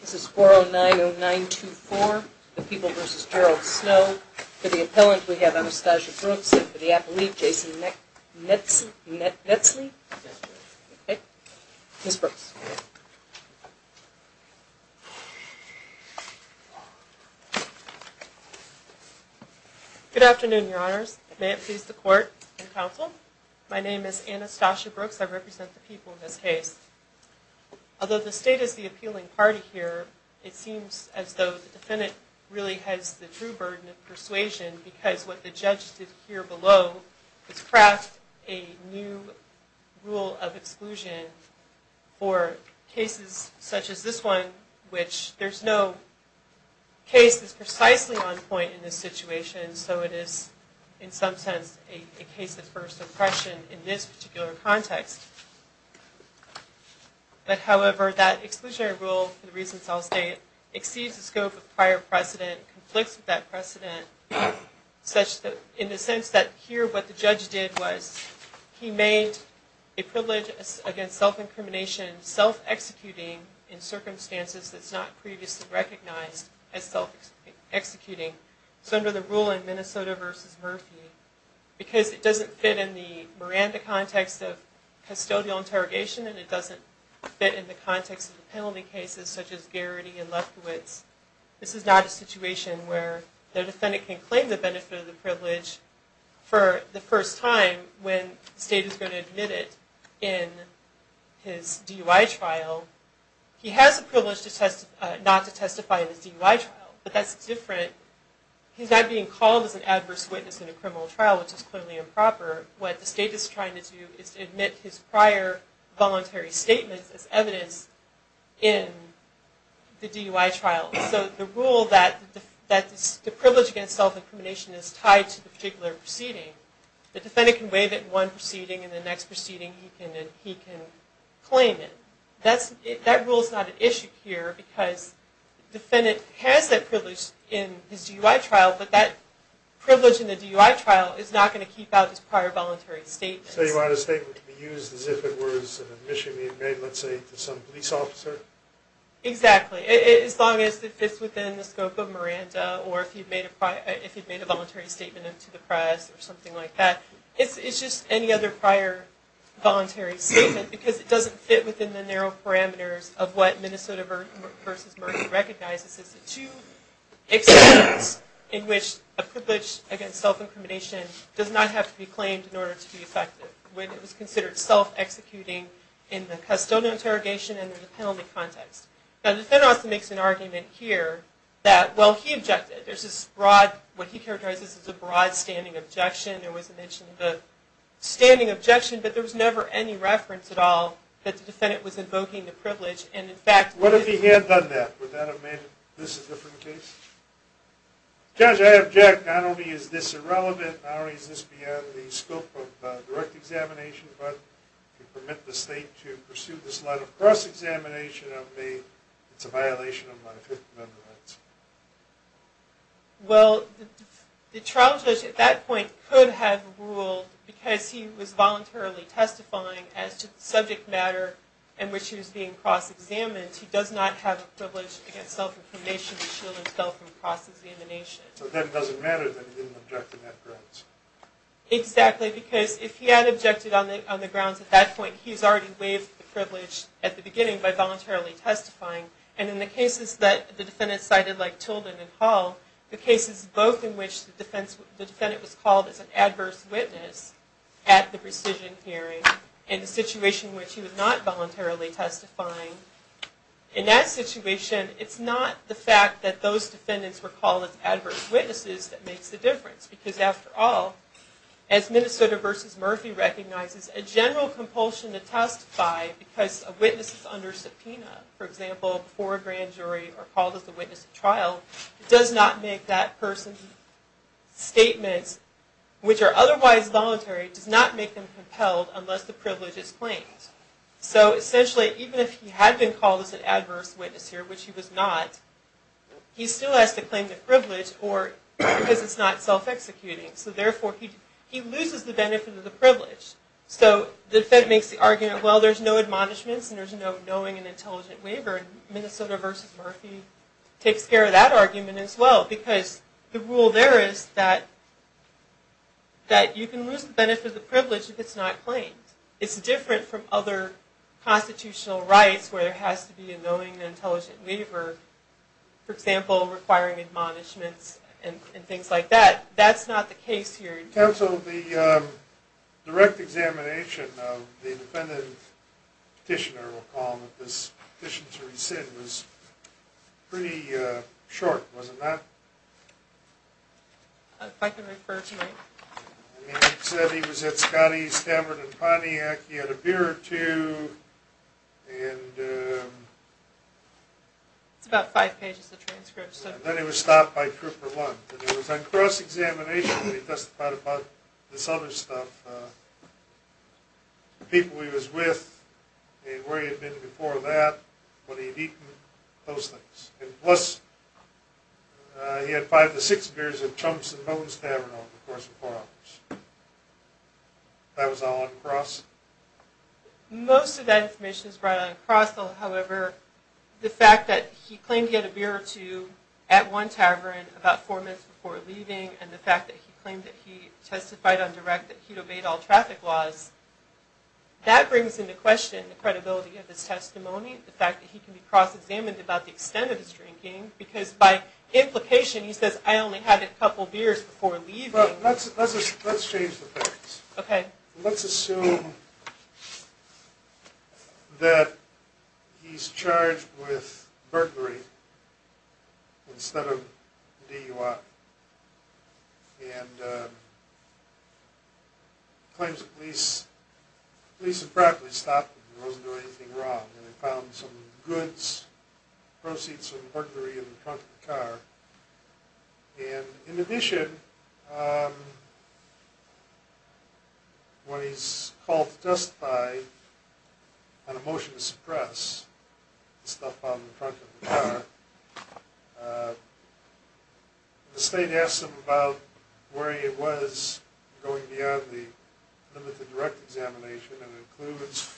This is 4090924, The People v. Gerald Snow. For the appellant, we have Anastasia Brooks, and for the apple leaf, Jason Netzle. Ms. Brooks. Good afternoon, Your Honors. May it please the Court and Council, my name is Anastasia Brooks. I represent The People, Ms. Hayes. Although the State is the appealing party here, it seems as though the defendant really has the true burden of persuasion because what the judge did here below is craft a new rule of exclusion for cases such as this one, which there's no case that's precisely on point in this situation, so it is in this particular context. But however, that exclusionary rule, for the reasons I'll state, exceeds the scope of prior precedent, conflicts with that precedent, such that in the sense that here what the judge did was he made a privilege against self-incrimination, self-executing in circumstances that's not previously recognized as self-executing. So under the rule in Minnesota v. Murphy, because it doesn't fit in the Miranda context of custodial interrogation and it doesn't fit in the context of the penalty cases such as Garrity and Lefkowitz, this is not a situation where the defendant can claim the benefit of the privilege for the first time when the State is going to admit it in his DUI trial. He has the privilege not to testify in his DUI trial, but that's clearly improper. What the State is trying to do is to admit his prior voluntary statements as evidence in the DUI trial. So the rule that the privilege against self-incrimination is tied to the particular proceeding, the defendant can waive it in one proceeding and the next proceeding he can claim it. That rule is not an issue here because the defendant has that privilege in his DUI trial, but that privilege in the DUI trial is not going to keep out his prior voluntary statements. So you want a statement to be used as if it were an admission he had made, let's say, to some police officer? Exactly. As long as it fits within the scope of Miranda or if he'd made a voluntary statement to the press or something like that. It's just any other prior voluntary statement because it doesn't fit within the narrow parameters of what Minnesota v. Murphy recognizes as the two extents in which a privilege against self-incrimination does not have to be claimed in order to be effective when it was considered self-executing in the custodial interrogation and in the penalty context. Now the defendant also makes an argument here that, well, he objected. There's this broad, what he characterizes as a broad standing objection. There was a mention of a standing objection, but there was never any reference at all that the defendant was invoking the privilege. And in fact... What if he had done that? Would that have made this a different case? Judge, I object. Not only is this irrelevant, not only is this beyond the scope of direct examination, but to permit the state to pursue this line of cross-examination, it's a violation of my Fifth Amendment rights. Well, the trial judge at that point could have ruled, because he was voluntarily testifying as to the subject matter in which he was being cross-examined, he does not have a privilege against self-incrimination to fall from cross-examination. So if that doesn't matter, then he didn't object in that grounds. Exactly, because if he had objected on the grounds at that point, he's already waived the privilege at the beginning by voluntarily testifying. And in the cases that the defendant cited, like Tilden and Hall, the cases both in which the defendant was called as an adverse witness at the precision hearing, and the situation in which he was not voluntarily testifying, in that situation, it's not the fact that those defendants were called as adverse witnesses that makes the difference. Because after all, as Minnesota v. Murphy recognizes, a general compulsion to testify because a witness is under subpoena, for example, before a grand jury, or called as a witness at trial, does not make that person's statements, which are otherwise voluntary, does not make them compelled unless the privilege is claimed. So essentially, even if he had been called as an adverse witness here, which he was not, he still has to claim the privilege because it's not self- executing. So therefore, he loses the benefit of the privilege. So the defendant makes the argument, well, there's no admonishments and there's no knowing and intelligent waiver, and Minnesota v. Murphy takes care of that argument as well, because the rule there is that you can lose the benefit of other constitutional rights where there has to be a knowing and intelligent waiver, for example, requiring admonishments and things like that. That's not the case here. We cancelled the direct examination of the defendant petitioner, we'll call him, this petition to rescind was pretty short, wasn't that? If I can refer to it. He said he was at Scotty's, Stamford and Pontiac, he had a beer or two, and It's about five pages of transcripts. And then he was stopped by Trooper Lund, and it was on cross-examination that he testified about this other stuff, the people he was with and where he had been before that, what he had eaten, those things. And plus, he had five to six beers at Trump's and Bones Tavern over the course of four hours. That was all on cross? Most of that information is brought on cross, however, the fact that he was at one tavern about four minutes before leaving and the fact that he claimed that he testified on direct that he'd obeyed all traffic laws, that brings into question the credibility of his testimony, the fact that he can be cross-examined about the extent of his drinking, because by implication he says, I only had a couple beers before leaving. Let's change the facts. Okay. Let's assume that he's charged with burglary instead of DUI and claims the police had practically stopped him, he wasn't doing anything wrong, and they found some goods, proceeds from burglary in the front of the car. And in addition, when he's called to testify on a motion to suppress the stuff found in the front of the car, the state asks him about where he was going beyond the limit of direct examination and includes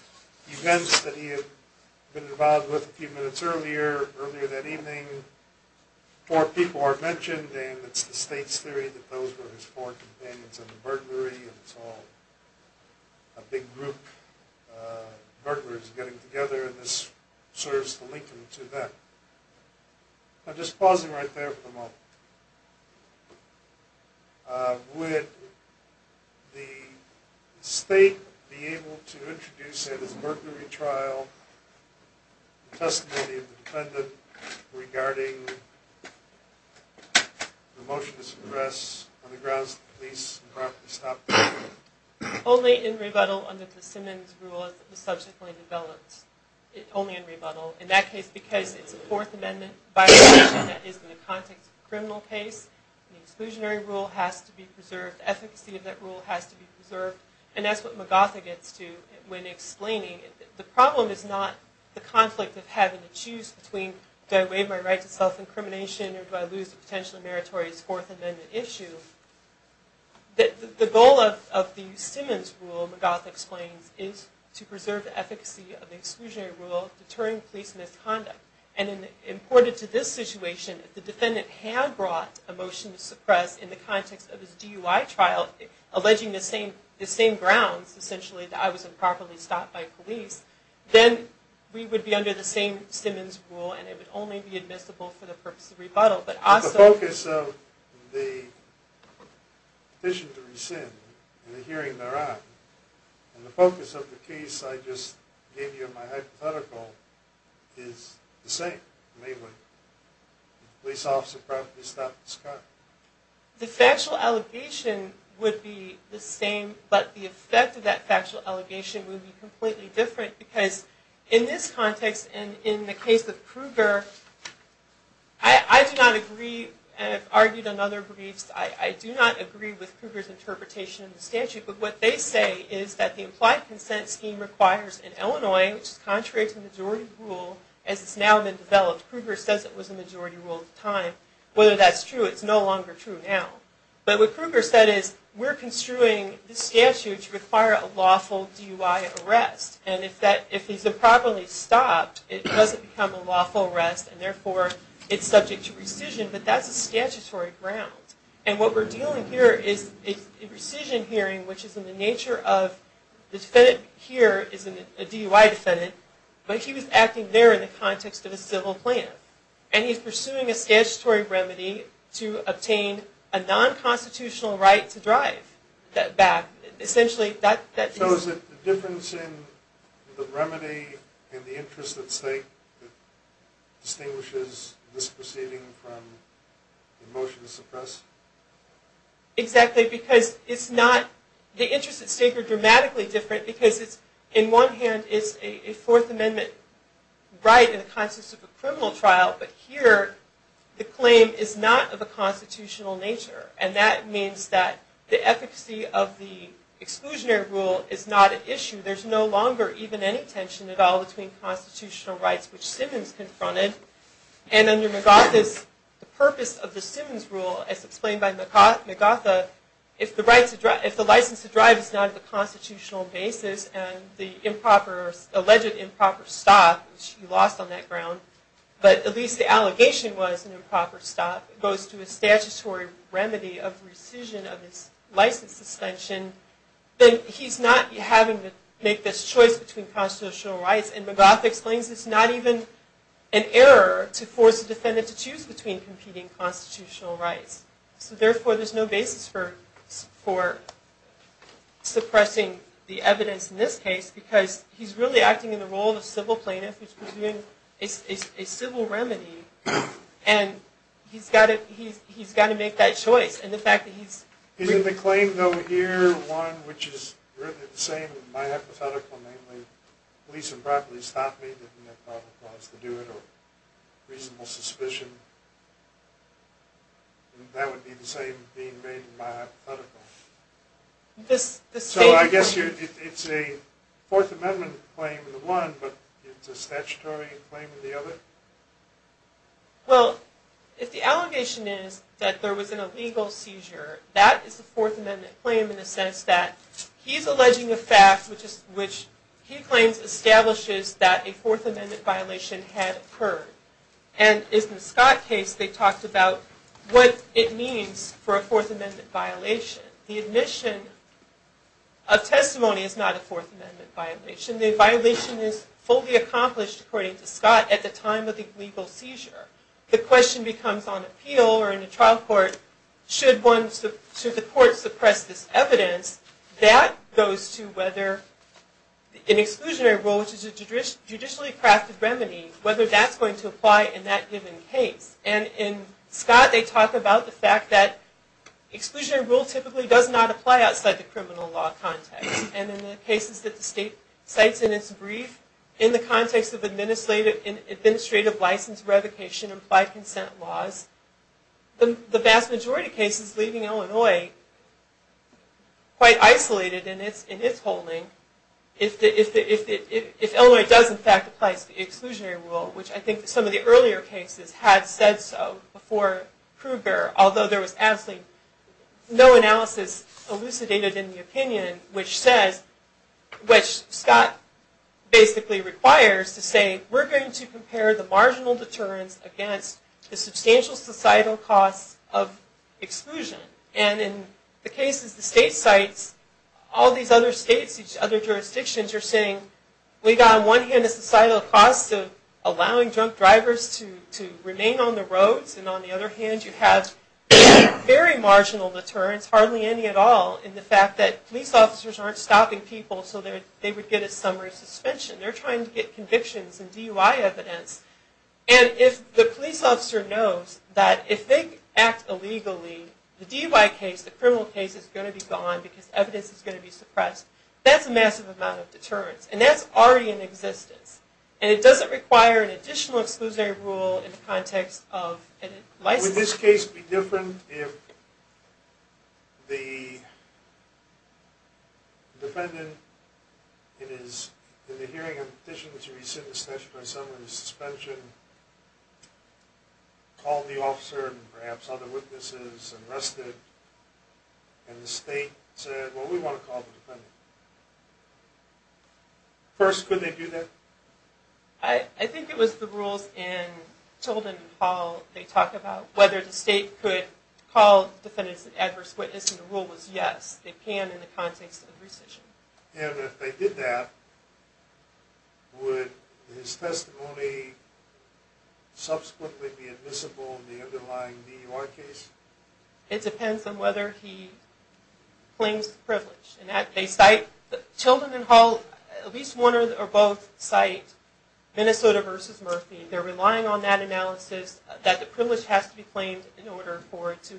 events that he had been involved with a few minutes earlier, earlier that evening. Four people are mentioned and it's the state's theory that those were his four companions in the burglary and it's all a big group of burglars getting together and this serves to link him to them. I'm just pausing right there for a moment. Would the state be able to introduce at his burglary trial the testimony of the defendant regarding the motion to suppress on the grounds that the police had practically stopped him? Only in rebuttal under the Simmons rule as the subject was developed. Only in rebuttal. In that case, because it's a Fourth Amendment violation that is in the criminal case, the exclusionary rule has to be preserved. The efficacy of that rule has to be preserved and that's what Magatha gets to when explaining the problem is not the conflict of having to choose between do I waive my right to self-incrimination or do I lose the potential of meritorious Fourth Amendment issue. The goal of the Simmons rule, Magatha explains, is to preserve the efficacy of the exclusionary rule, deterring police misconduct. Imported to this situation, if the defendant had brought a motion to suppress in the context of his DUI trial, alleging the same grounds, essentially, that I was improperly stopped by police, then we would be under the same Simmons rule and it would only be admissible for the purpose of rebuttal. The focus of the petition to rescind and the hearing thereof and the focus of the case I just gave you in my hypothetical is the same. The police officer probably stopped his car. The factual allegation would be the same, but the effect of that factual allegation would be completely different because in this context and in the case of Kruger, I do not agree, and I've argued on other briefs, I do not agree with Kruger's interpretation of the statute, but what they say is that the implied consent scheme requires in Illinois, which is contrary to the majority rule, as it's now been developed, Kruger says it was the majority rule at the time. Whether that's true, it's no longer true now. But what Kruger said is, we're construing this statute to require a lawful DUI arrest, and if he's improperly stopped, it doesn't become a lawful arrest and therefore it's subject to rescission, but that's a statutory ground. And what we're dealing here is a rescission hearing, which is in the nature of the defendant here is a DUI defendant, but he was acting there in the context of a civil plan. And he's pursuing a statutory remedy to obtain a non-constitutional right to drive that back. Essentially, that is... So is it the difference in the remedy and the interest at stake that distinguishes this proceeding from the motion to suppress? Exactly, because it's not... The interests at stake are dramatically different because it's, in one hand, it's a Fourth Amendment right in the context of a criminal trial, but here the claim is not of a constitutional nature. And that means that the efficacy of the exclusionary rule is not an issue. There's no longer even any tension at all between constitutional rights, which Simmons confronted. And under McArthur's purpose of the Simmons rule, as explained by McArthur, if the license to drive is not of a constitutional basis and the improper or alleged improper stop, which he lost on that ground, but at least the allegation was an improper stop, goes to a statutory remedy of rescission of his license suspension, then he's not having to make this choice between competing constitutional rights. So therefore, there's no basis for suppressing the evidence in this case because he's really acting in the role of a civil plaintiff who's pursuing a civil remedy, and he's got to make that choice. And the fact that he's... Isn't the claim, though, here one which is really the same as my hypothetical, namely police improperly stopped me, didn't have probable cause to do it, or reasonable suspicion, that would be the same being made in my hypothetical. So I guess it's a Fourth Amendment claim in the one, but it's a statutory claim in the other? Well, if the allegation is that there was an illegal seizure, that is a Fourth Amendment claim in the sense that he's alleging a fact which he claims establishes that a Fourth Amendment violation had occurred. And in the Scott case, they talked about what it means for a Fourth Amendment violation. The admission of testimony is not a Fourth Amendment violation. The violation is fully accomplished, according to Scott, at the time of the illegal seizure. The question becomes on appeal or in a trial court, should the court suppress this evidence? That goes to whether an exclusionary rule, which is a judicially crafted remedy, whether that's going to apply in that given case. And in Scott, they talk about the fact that exclusionary rule typically does not apply outside the criminal law context. And in the cases that the state cites in its brief, in the context of administrative license revocation and applied consent laws, the vast majority of cases leaving Illinois quite isolated in its holding. If Illinois does in fact applies the exclusionary rule, which I think some of the earlier cases had said so before Kruger, although there was absolutely no analysis elucidated in the opinion, which says, which Scott basically requires to say, we're going to compare the marginal deterrence against the substantial societal costs of exclusion. And in the cases the state cites, all these other states, these other jurisdictions are saying, we've got on one hand a societal cost of allowing drunk drivers to remain on the roads, and on the other hand, you have very marginal deterrence, hardly any at all, in the fact that police officers aren't stopping people so they would get a summer suspension. They're trying to get convictions and DUI evidence. And if the police officer knows that if they act illegally, the DUI case, the criminal case, is going to be gone, because evidence is going to be suppressed, that's a massive amount of deterrence. And that's already in existence. And it doesn't require an additional exclusionary rule in the context of license. Would this case be different if the defendant, in the hearing of the petition to rescind the statute on summer suspension, called the officer and perhaps other witnesses and rested, and the state said, well, we want to call the defendant. First, could they do that? I think it was the rules in Tilden and Hall, they talk about whether the state could call the defendant as an adverse witness, and the rule was yes, they can in the context of rescission. And if they did that, would his testimony subsequently be admissible in the underlying DUI case? It depends on whether he claims the privilege. Tilden and Hall, at least one or both, cite Minnesota v. Murphy. They're relying on that analysis that the privilege has to be claimed in order for it to...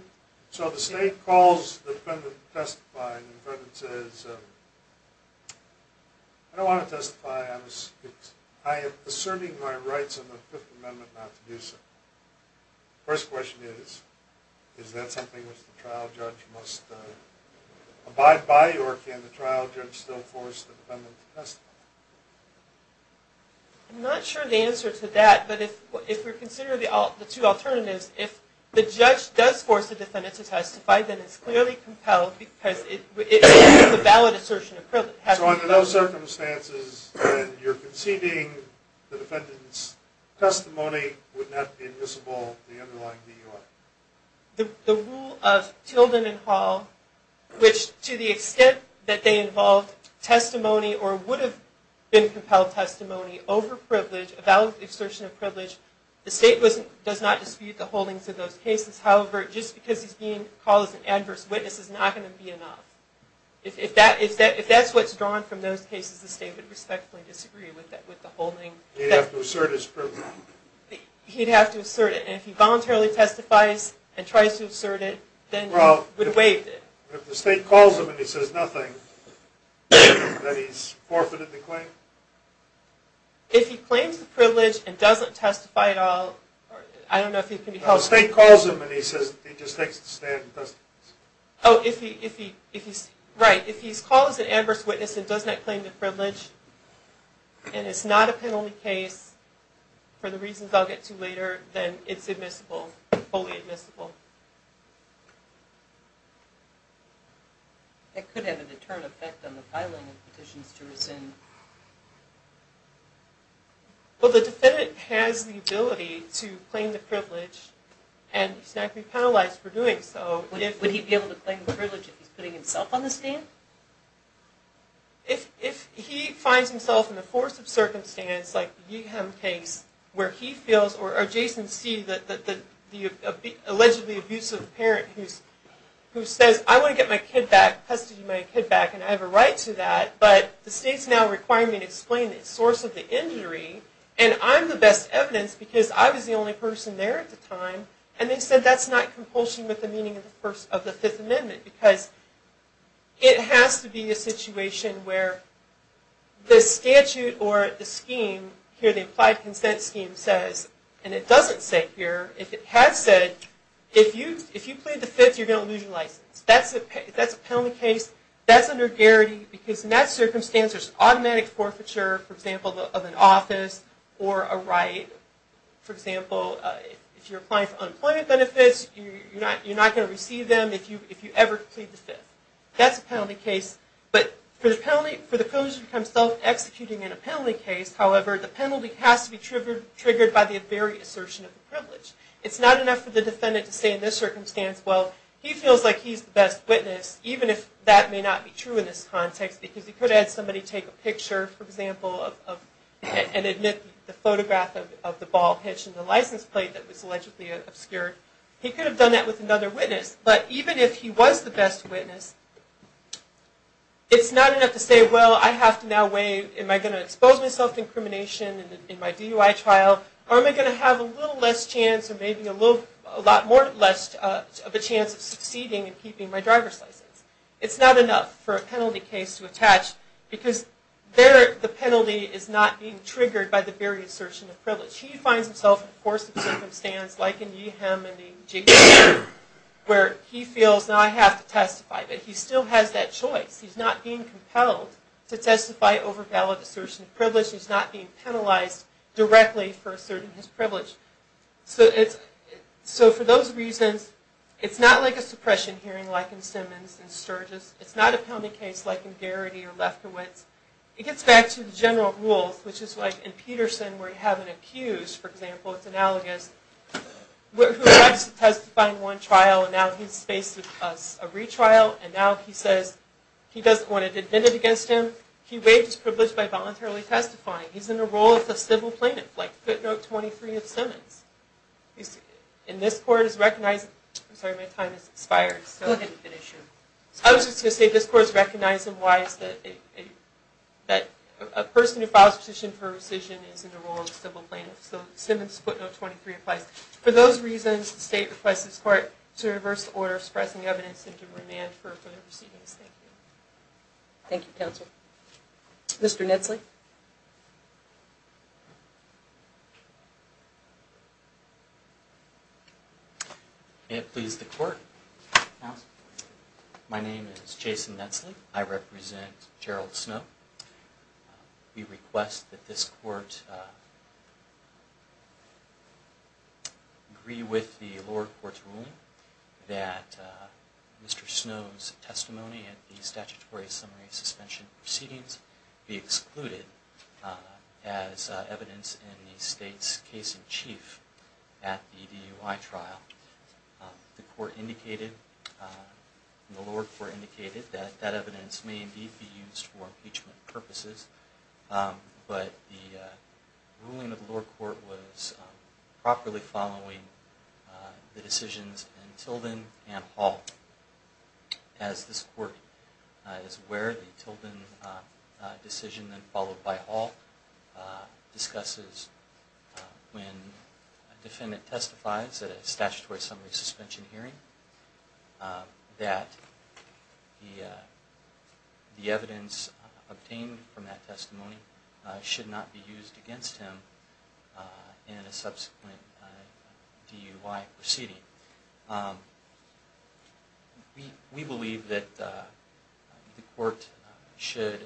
So the state calls the defendant to testify, and the defendant says, I don't want to testify, I am asserting my rights under the Fifth Amendment not to do so. First question is, is that something which the trial judge must abide by or can the trial judge still force the defendant to testify? I'm not sure the answer to that, but if we're considering the two alternatives, if the judge does force the defendant to testify, then it's clearly compelled because it is a valid assertion of privilege. So under no circumstances, then you're conceding the defendant's testimony would not be admissible in the underlying DUI? The rule of Tilden and Hall, which to the extent that they involved testimony or would have been compelled testimony over privilege, a valid assertion of privilege, the state does not dispute the holdings of those cases. However, just because he's being called as an adverse witness is not going to be enough. If that's what's drawn from those cases, the state would respectfully disagree with the holding. He'd have to assert his privilege. He'd have to assert it, and if he voluntarily testifies and tries to assert it, then he would have waived it. If the state calls him and he says nothing, then he's forfeited the claim? If he claims the privilege and doesn't testify at all, I don't know if he can be held accountable. No, if the state calls him and he just takes the stand and testifies. Oh, if he's called as an adverse witness and does not claim the privilege, and it's not a penalty case for the reasons I'll get to later, then it's admissible, fully admissible. That could have a determined effect on the filing of petitions to rescind. Well, the defendant has the ability to claim the privilege, and he's not going to be penalized for doing so. Would he be able to claim the privilege if he's putting himself on the stand? If he finds himself in the force of circumstance, like the Yeeham case, where he feels or Jason sees the allegedly abusive parent who says, I want to get my kid back, custody my kid back, and I have a right to that, but the state's now requiring me to explain the source of the injury, and I'm the best evidence because I was the only person there at the time, and they said that's not compulsion with the meaning of the Fifth Amendment because it has to be a situation where the statute or the scheme, here the Applied Consent Scheme says, and it doesn't say here, if it had said, if you plead the Fifth, you're going to lose your license. That's a penalty case. That's under guarantee because in that circumstance, there's automatic forfeiture, for example, of an office or a right. For example, if you're applying for unemployment benefits, you're not going to receive them if you ever plead the Fifth. That's a penalty case. But for the person to become self-executing in a penalty case, however, the penalty has to be triggered by the very assertion of the privilege. It's not enough for the defendant to say in this circumstance, well, he feels like he's the best witness, even if that may not be true in this context because he could have somebody take a picture, for example, and admit the photograph of the ball hitch and the license plate that was allegedly obscured. He could have done that with another witness. But even if he was the best witness, it's not enough to say, well, I have to now weigh, am I going to expose myself to incrimination in my DUI trial, or am I going to have a little less chance or maybe a lot more less of a chance of succeeding in keeping my driver's license? It's not enough for a penalty case to attach because there, the chief finds himself, of course, in a circumstance like in Yeeham and the Jason case, where he feels, now I have to testify, but he still has that choice. He's not being compelled to testify over valid assertion of privilege. He's not being penalized directly for asserting his privilege. So for those reasons, it's not like a suppression hearing like in Simmons and Sturgis. It's not a penalty case like in Garrity or Lefkowitz. It gets back to the general rules, which is like in Peterson, where you have an accused, for example, it's analogous, who arrives to testify in one trial, and now he's faced with a retrial, and now he says he doesn't want it admitted against him. He waives his privilege by voluntarily testifying. He's in a role of the civil plaintiff, like footnote 23 of Simmons. And this court has recognized, I'm sorry, my time has expired. I was just going to say this court has recognized and waives that a person who files a petition for rescission is in the role of the civil plaintiff. So Simmons footnote 23 applies. For those reasons, the state requests this court to reverse the order of suppressing evidence and to remand for further proceedings. Thank you. Thank you, counsel. Mr. Nitzley? May it please the court, my name is Jason Nitzley. I represent Gerald Snow. We request that this court agree with the lower court's ruling that Mr. Snow's testimony at the statutory summary suspension proceedings be excluded as evidence in the state's case-in-chief at the DUI trial. The lower court indicated that that evidence may indeed be used for impeachment purposes, but the ruling of the lower court was properly following the decisions in Tilden and Hall. As this court is aware, the Tilden decision, then followed by Hall, discusses when a defendant testifies at a statutory summary suspension hearing that the evidence obtained from that testimony should not be used against him in a subsequent DUI proceeding. We believe that the court should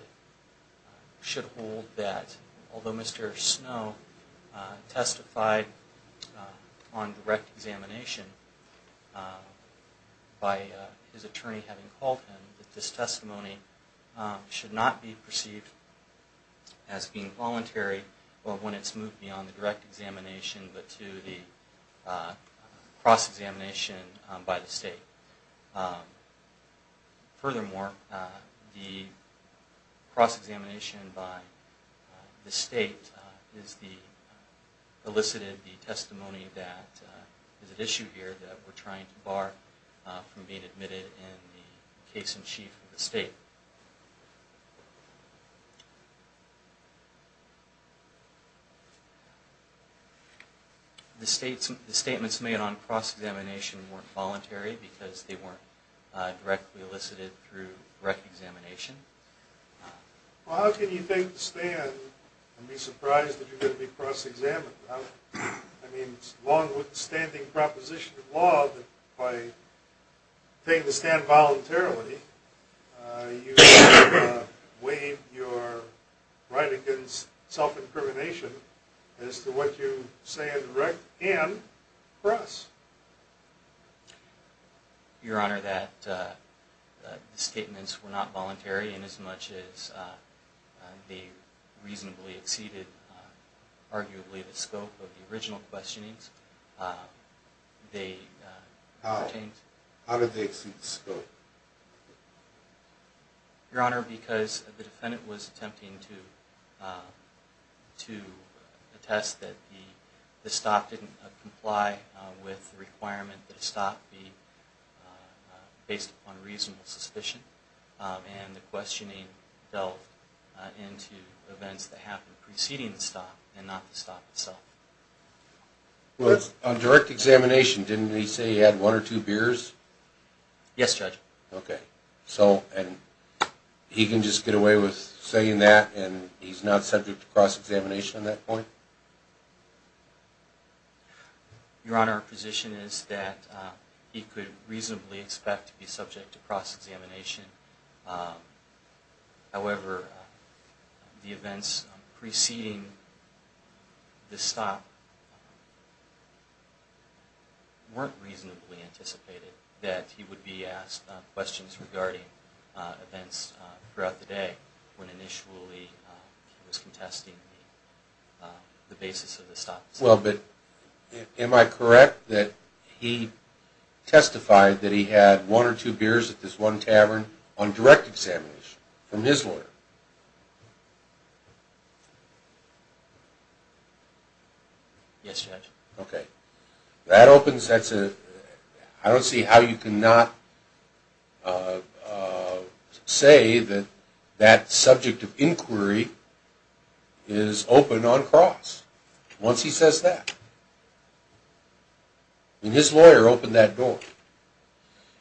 hold that although Mr. Snow testified on direct examination by his attorney having called him, that this testimony should not be perceived as being voluntary when it's moved beyond the direct examination but to the cross-examination by the state. Furthermore, the cross-examination by the state elicited the testimony that is at issue here that we're trying to bar from being admitted in the case-in-chief of the state. The statements made on cross-examination weren't voluntary because they weren't directly elicited through direct examination. Well, how can you think to stand and be surprised that you're going to be cross-examined? I mean, it's a long-standing proposition of law that by taking the stand voluntarily, you waive your right against self-incrimination as to what you say on direct and cross. Your Honor, that the statements were not voluntary inasmuch as they reasonably exceeded arguably the scope of the original questionings. How did they exceed the scope? Your Honor, because the defendant was attempting to attest that the stop didn't comply with the requirement that a stop be based upon reasonable suspicion, and the questioning delved into events that happened preceding the stop and not the stop itself. On direct examination, didn't he say he had one or two beers? Yes, Judge. Okay. And he can just get away with saying that, and he's not subject to cross-examination on that point? Your Honor, our position is that he could reasonably expect to be subject to cross-examination. However, the events preceding the stop weren't reasonably anticipated that he would be asked questions regarding events throughout the day when initially he was contesting the basis of the stop. Well, but am I correct that he testified that he had one or two beers at this one tavern on direct examination from his lawyer? Okay. That opens, that's a, I don't see how you can not say that that subject of inquiry is open on cross once he says that. I mean, his lawyer opened that door.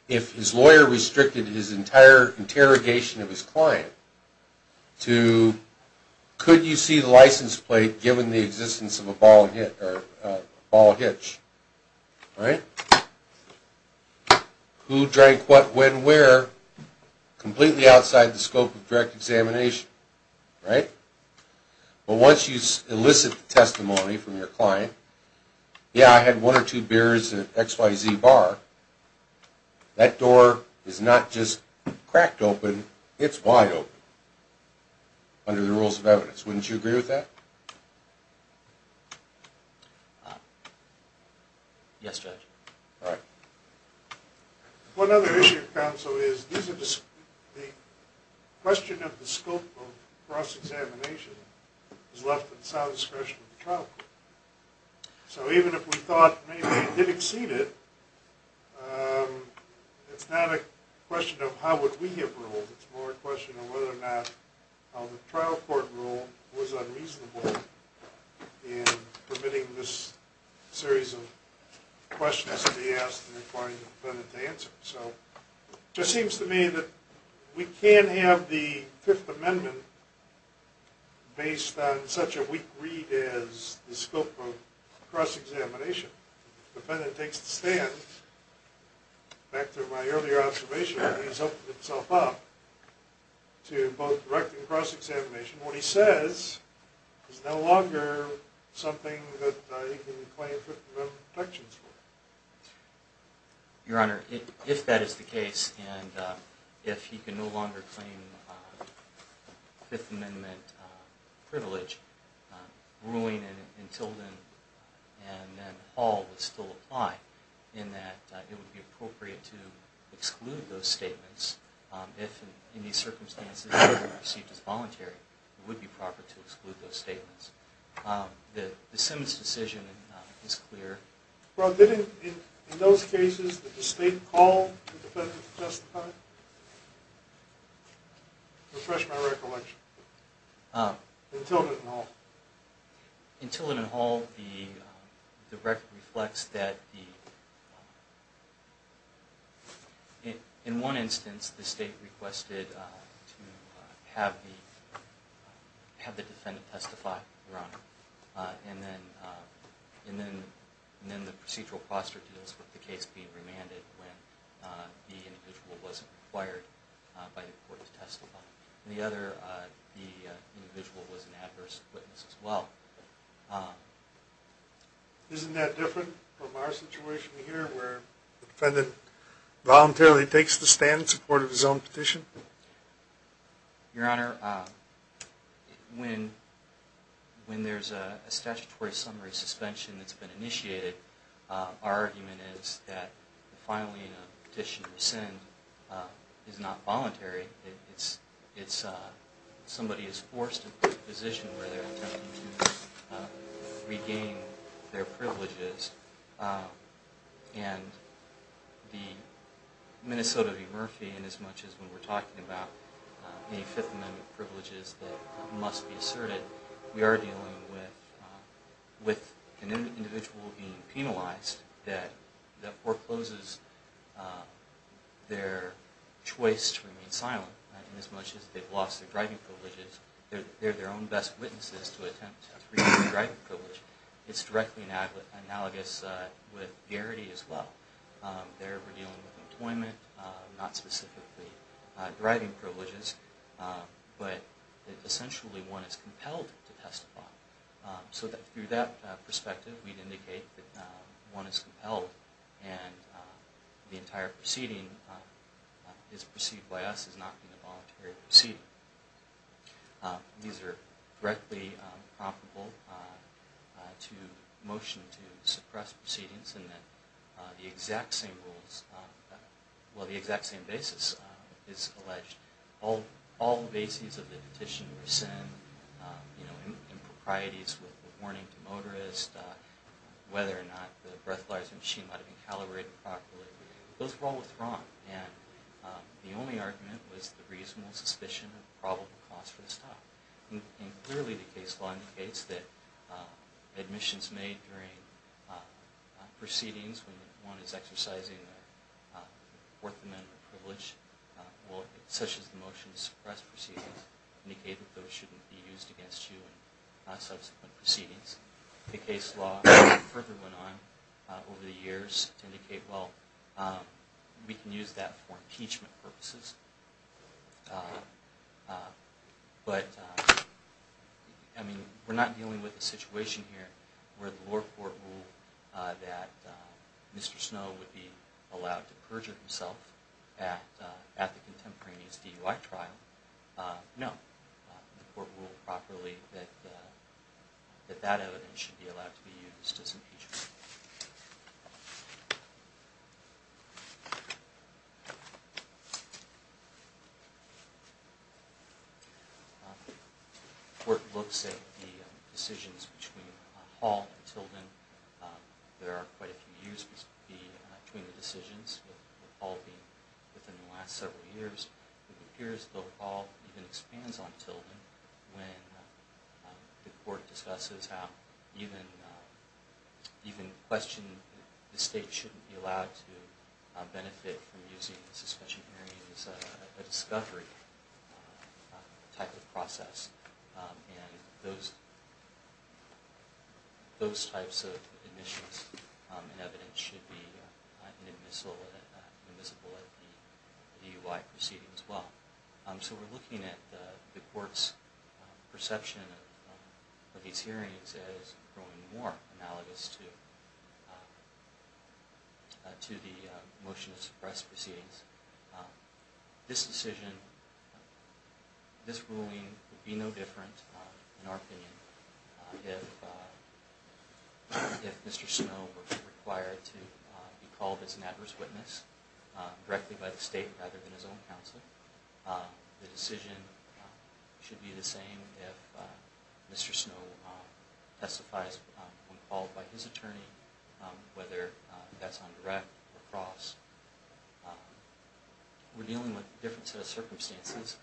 If his lawyer restricted his entire interrogation of his client to, could you see the license plate given the existence of a ball hit, or a ball hitch, right? Who drank what, when, where, completely outside the scope of direct examination, right? But once you elicit the testimony from your client, yeah, I had one or two beers at XYZ Bar, that door is not just cracked open, it's wide open under the rules of evidence. Wouldn't you agree with that? Yes, Judge. All right. One other issue, counsel, is the question of the scope of cross-examination is left in solid discretion of the trial court. So even if we thought maybe it did exceed it, it's not a question of how would we have ruled, it's more a question of whether or not the trial court rule was unreasonable in permitting this series of questions to be asked and requiring the defendant to answer. So it just seems to me that we can't have the Fifth Amendment based on such a weak read as the scope of cross-examination. If the defendant takes the stand, back to my earlier observation, he's opened himself up to both direct and cross-examination. What he says is no longer something that he can claim Fifth Amendment protections for. Your Honor, if that is the case, and if he can no longer claim Fifth Amendment privilege, ruling in Tilden and then Hall would still apply, in that it would be appropriate to exclude those statements. If, in these circumstances, they were received as voluntary, it would be proper to exclude those statements. The Simmons decision is clear. Well, in those cases, did the State call the defendant to testify? Refresh my recollection. In Tilden and Hall. In Tilden and Hall, the record reflects that in one instance, the State requested to have the defendant testify, Your Honor. And then the procedural foster deals with the case being remanded when the individual wasn't required by the court to testify. In the other, the individual was an adverse witness as well. Isn't that different from our situation here, where the defendant voluntarily takes the stand in support of his own petition? Your Honor, when there's a statutory summary suspension that's been initiated, our argument is that filing a petition to rescind is not voluntary. Somebody is forced into a position where they're attempting to regain their privileges. And the Minnesota v. Murphy, inasmuch as when we're talking about any Fifth Amendment privileges that must be asserted, we are dealing with an individual being penalized that forecloses their choice to remain silent. Inasmuch as they've lost their driving privileges, they're their own best witnesses to attempt to regain their driving privileges. It's directly analogous with garrity as well. They're dealing with employment, not specifically driving privileges, but essentially one is compelled to testify. So through that perspective, we'd indicate that one is compelled and the entire proceeding is perceived by us as not being a voluntary proceeding. These are directly promptable to motion to suppress proceedings and that the exact same rules, well, the exact same basis is alleged. All the bases of the petition rescind, you know, improprieties with warning to motorists, whether or not the breathalyzer machine might have been calibrated properly, those were all withdrawn. And the only argument was the reasonable suspicion of probable cause for the stop. And clearly the case law indicates that admissions made during proceedings when one is exercising a Fourth Amendment privilege, such as the motion to suppress proceedings, indicate that those shouldn't be used against you in subsequent proceedings. The case law further went on over the years to indicate, well, we can use that for impeachment purposes. But, I mean, we're not dealing with a situation here where the lower court ruled that Mr. Snow would be allowed to perjure himself at the contemporaneous DUI trial. No, the court ruled properly that that evidence should be allowed to be used as impeachment. The court looks at the decisions between Hall and Tilden. There are quite a few years between the decisions, with Hall being within the last several years. It appears that Hall even expands on Tilden when the court discusses how even the question that the state shouldn't be allowed to benefit from using a suspension hearing is a discovery type of process. And those types of admissions and evidence should be admissible at the DUI proceedings as well. So we're looking at the court's perception of these hearings as growing more analogous to the motion to suppress proceedings. This decision, this ruling would be no different, in our opinion, if Mr. Snow were required to be called as an adverse witness directly by the state rather than his own counsel. The decision should be the same if Mr. Snow testifies when called by his attorney, whether that's on direct or cross. We're dealing with a different set of circumstances.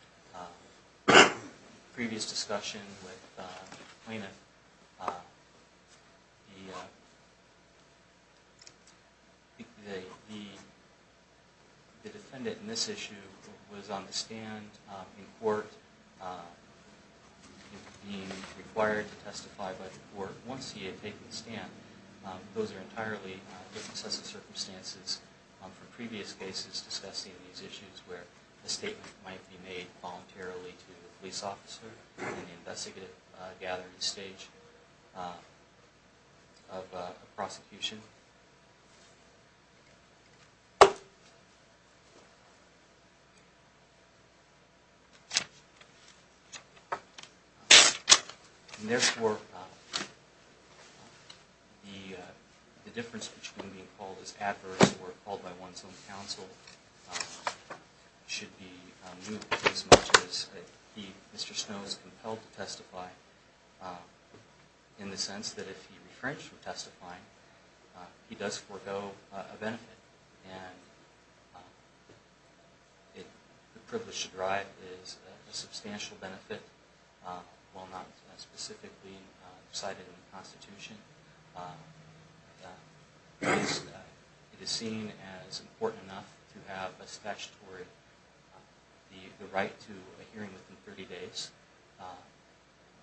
The defendant in this issue was on the stand in court, being required to testify by the court. Once he had taken the stand, those are entirely different sets of circumstances from previous cases discussing these issues where a statement might be made voluntarily to the police officer in the investigative gathering stage of a prosecution. And therefore, the difference between being called as adverse or called by one's own counsel should be new as much as Mr. Snow is compelled to testify in the sense that if he refrenched from testifying, he does forego a benefit, and the privilege to drive is a substantial benefit while not specifically cited in the Constitution. It is seen as important enough to have a statutory, the right to a hearing within 30 days,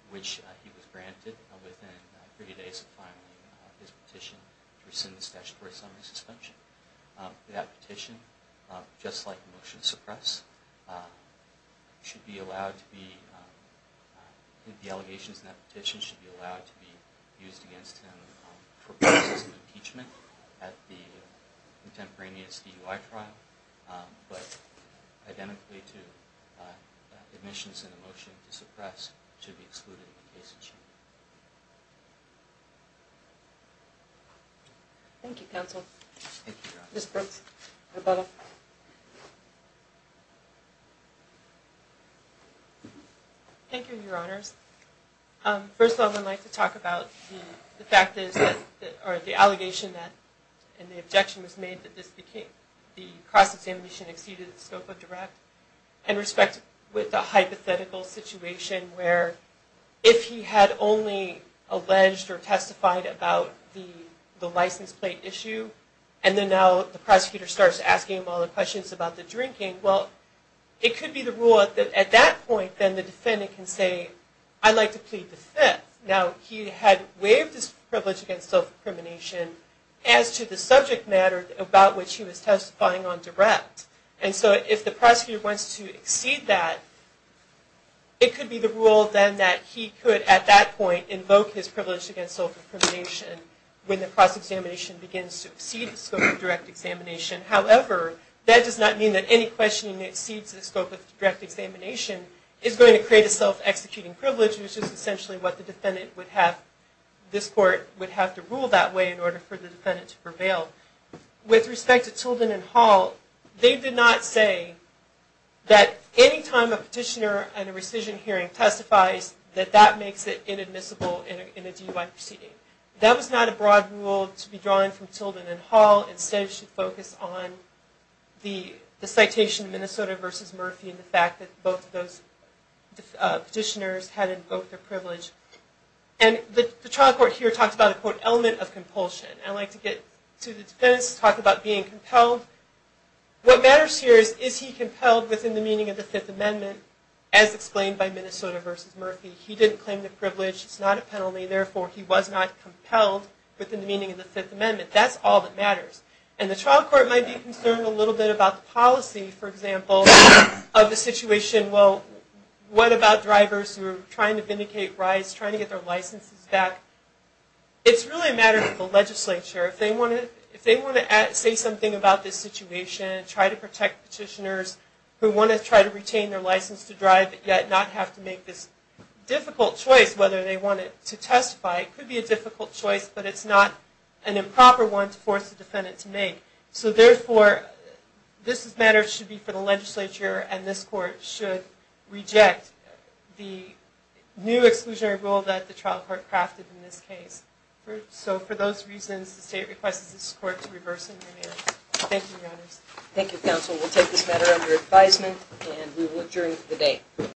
which he was granted within 30 days of filing his petition to rescind the statutory summary suspension. That petition, just like the motion to suppress, should be allowed to be, the allegations in that petition should be allowed to be used against him for purposes of impeachment at the contemporaneous DUI trial. But identically to the admissions and the motion to suppress, should be excluded in the case of chamber. Thank you, counsel. Ms. Brooks. Thank you, your honors. First of all, I'd like to talk about the fact that, or the allegation that, and the objection was made that this became, the cross-examination exceeded the scope of direct. In respect with the hypothetical situation where if he had only alleged or testified about the license plate issue, and then now the prosecutor starts asking him all the questions about the drinking, well, it could be the rule at that point that the defendant can say, I'd like to plead the fifth. Now, he had waived his privilege against self-incrimination as to the subject matter about which he was testifying on direct. And so if the prosecutor wants to exceed that, it could be the rule then that he could at that point invoke his privilege against self-incrimination when the cross-examination begins to exceed the scope of direct examination. However, that does not mean that any questioning that exceeds the scope of direct examination is going to create a self-executing privilege, which is essentially what the defendant would have, this court would have to rule that way in order for the defendant to prevail. With respect to Tilden and Hall, they did not say that any time a petitioner at a rescission hearing testifies, that that makes it inadmissible in a DUI proceeding. That was not a broad rule to be drawn from Tilden and Hall. Instead, it should focus on the citation of Minnesota v. Murphy and the fact that both of those petitioners had invoked their privilege. And the trial court here talks about an element of compulsion. I like to get to the defense, talk about being compelled. What matters here is, is he compelled within the meaning of the Fifth Amendment as explained by Minnesota v. Murphy? He didn't claim the privilege. It's not a penalty. Therefore, he was not compelled within the meaning of the Fifth Amendment. That's all that matters. And the trial court might be concerned a little bit about the policy, for example, of the situation. Well, what about drivers who are trying to vindicate rights, trying to get their licenses back? It's really a matter for the legislature. If they want to say something about this situation, try to protect petitioners who want to try to retain their license to drive, yet not have to make this difficult choice whether they want it to testify. It could be a difficult choice, but it's not an improper one to force the defendant to make. So therefore, this matter should be for the legislature, and this court should reject the new exclusionary rule that the trial court crafted in this case. So for those reasons, the state requests this court to reverse the amendments. Thank you, Your Honors. Thank you, Counsel. We'll take this matter under advisement, and we will adjourn for the day.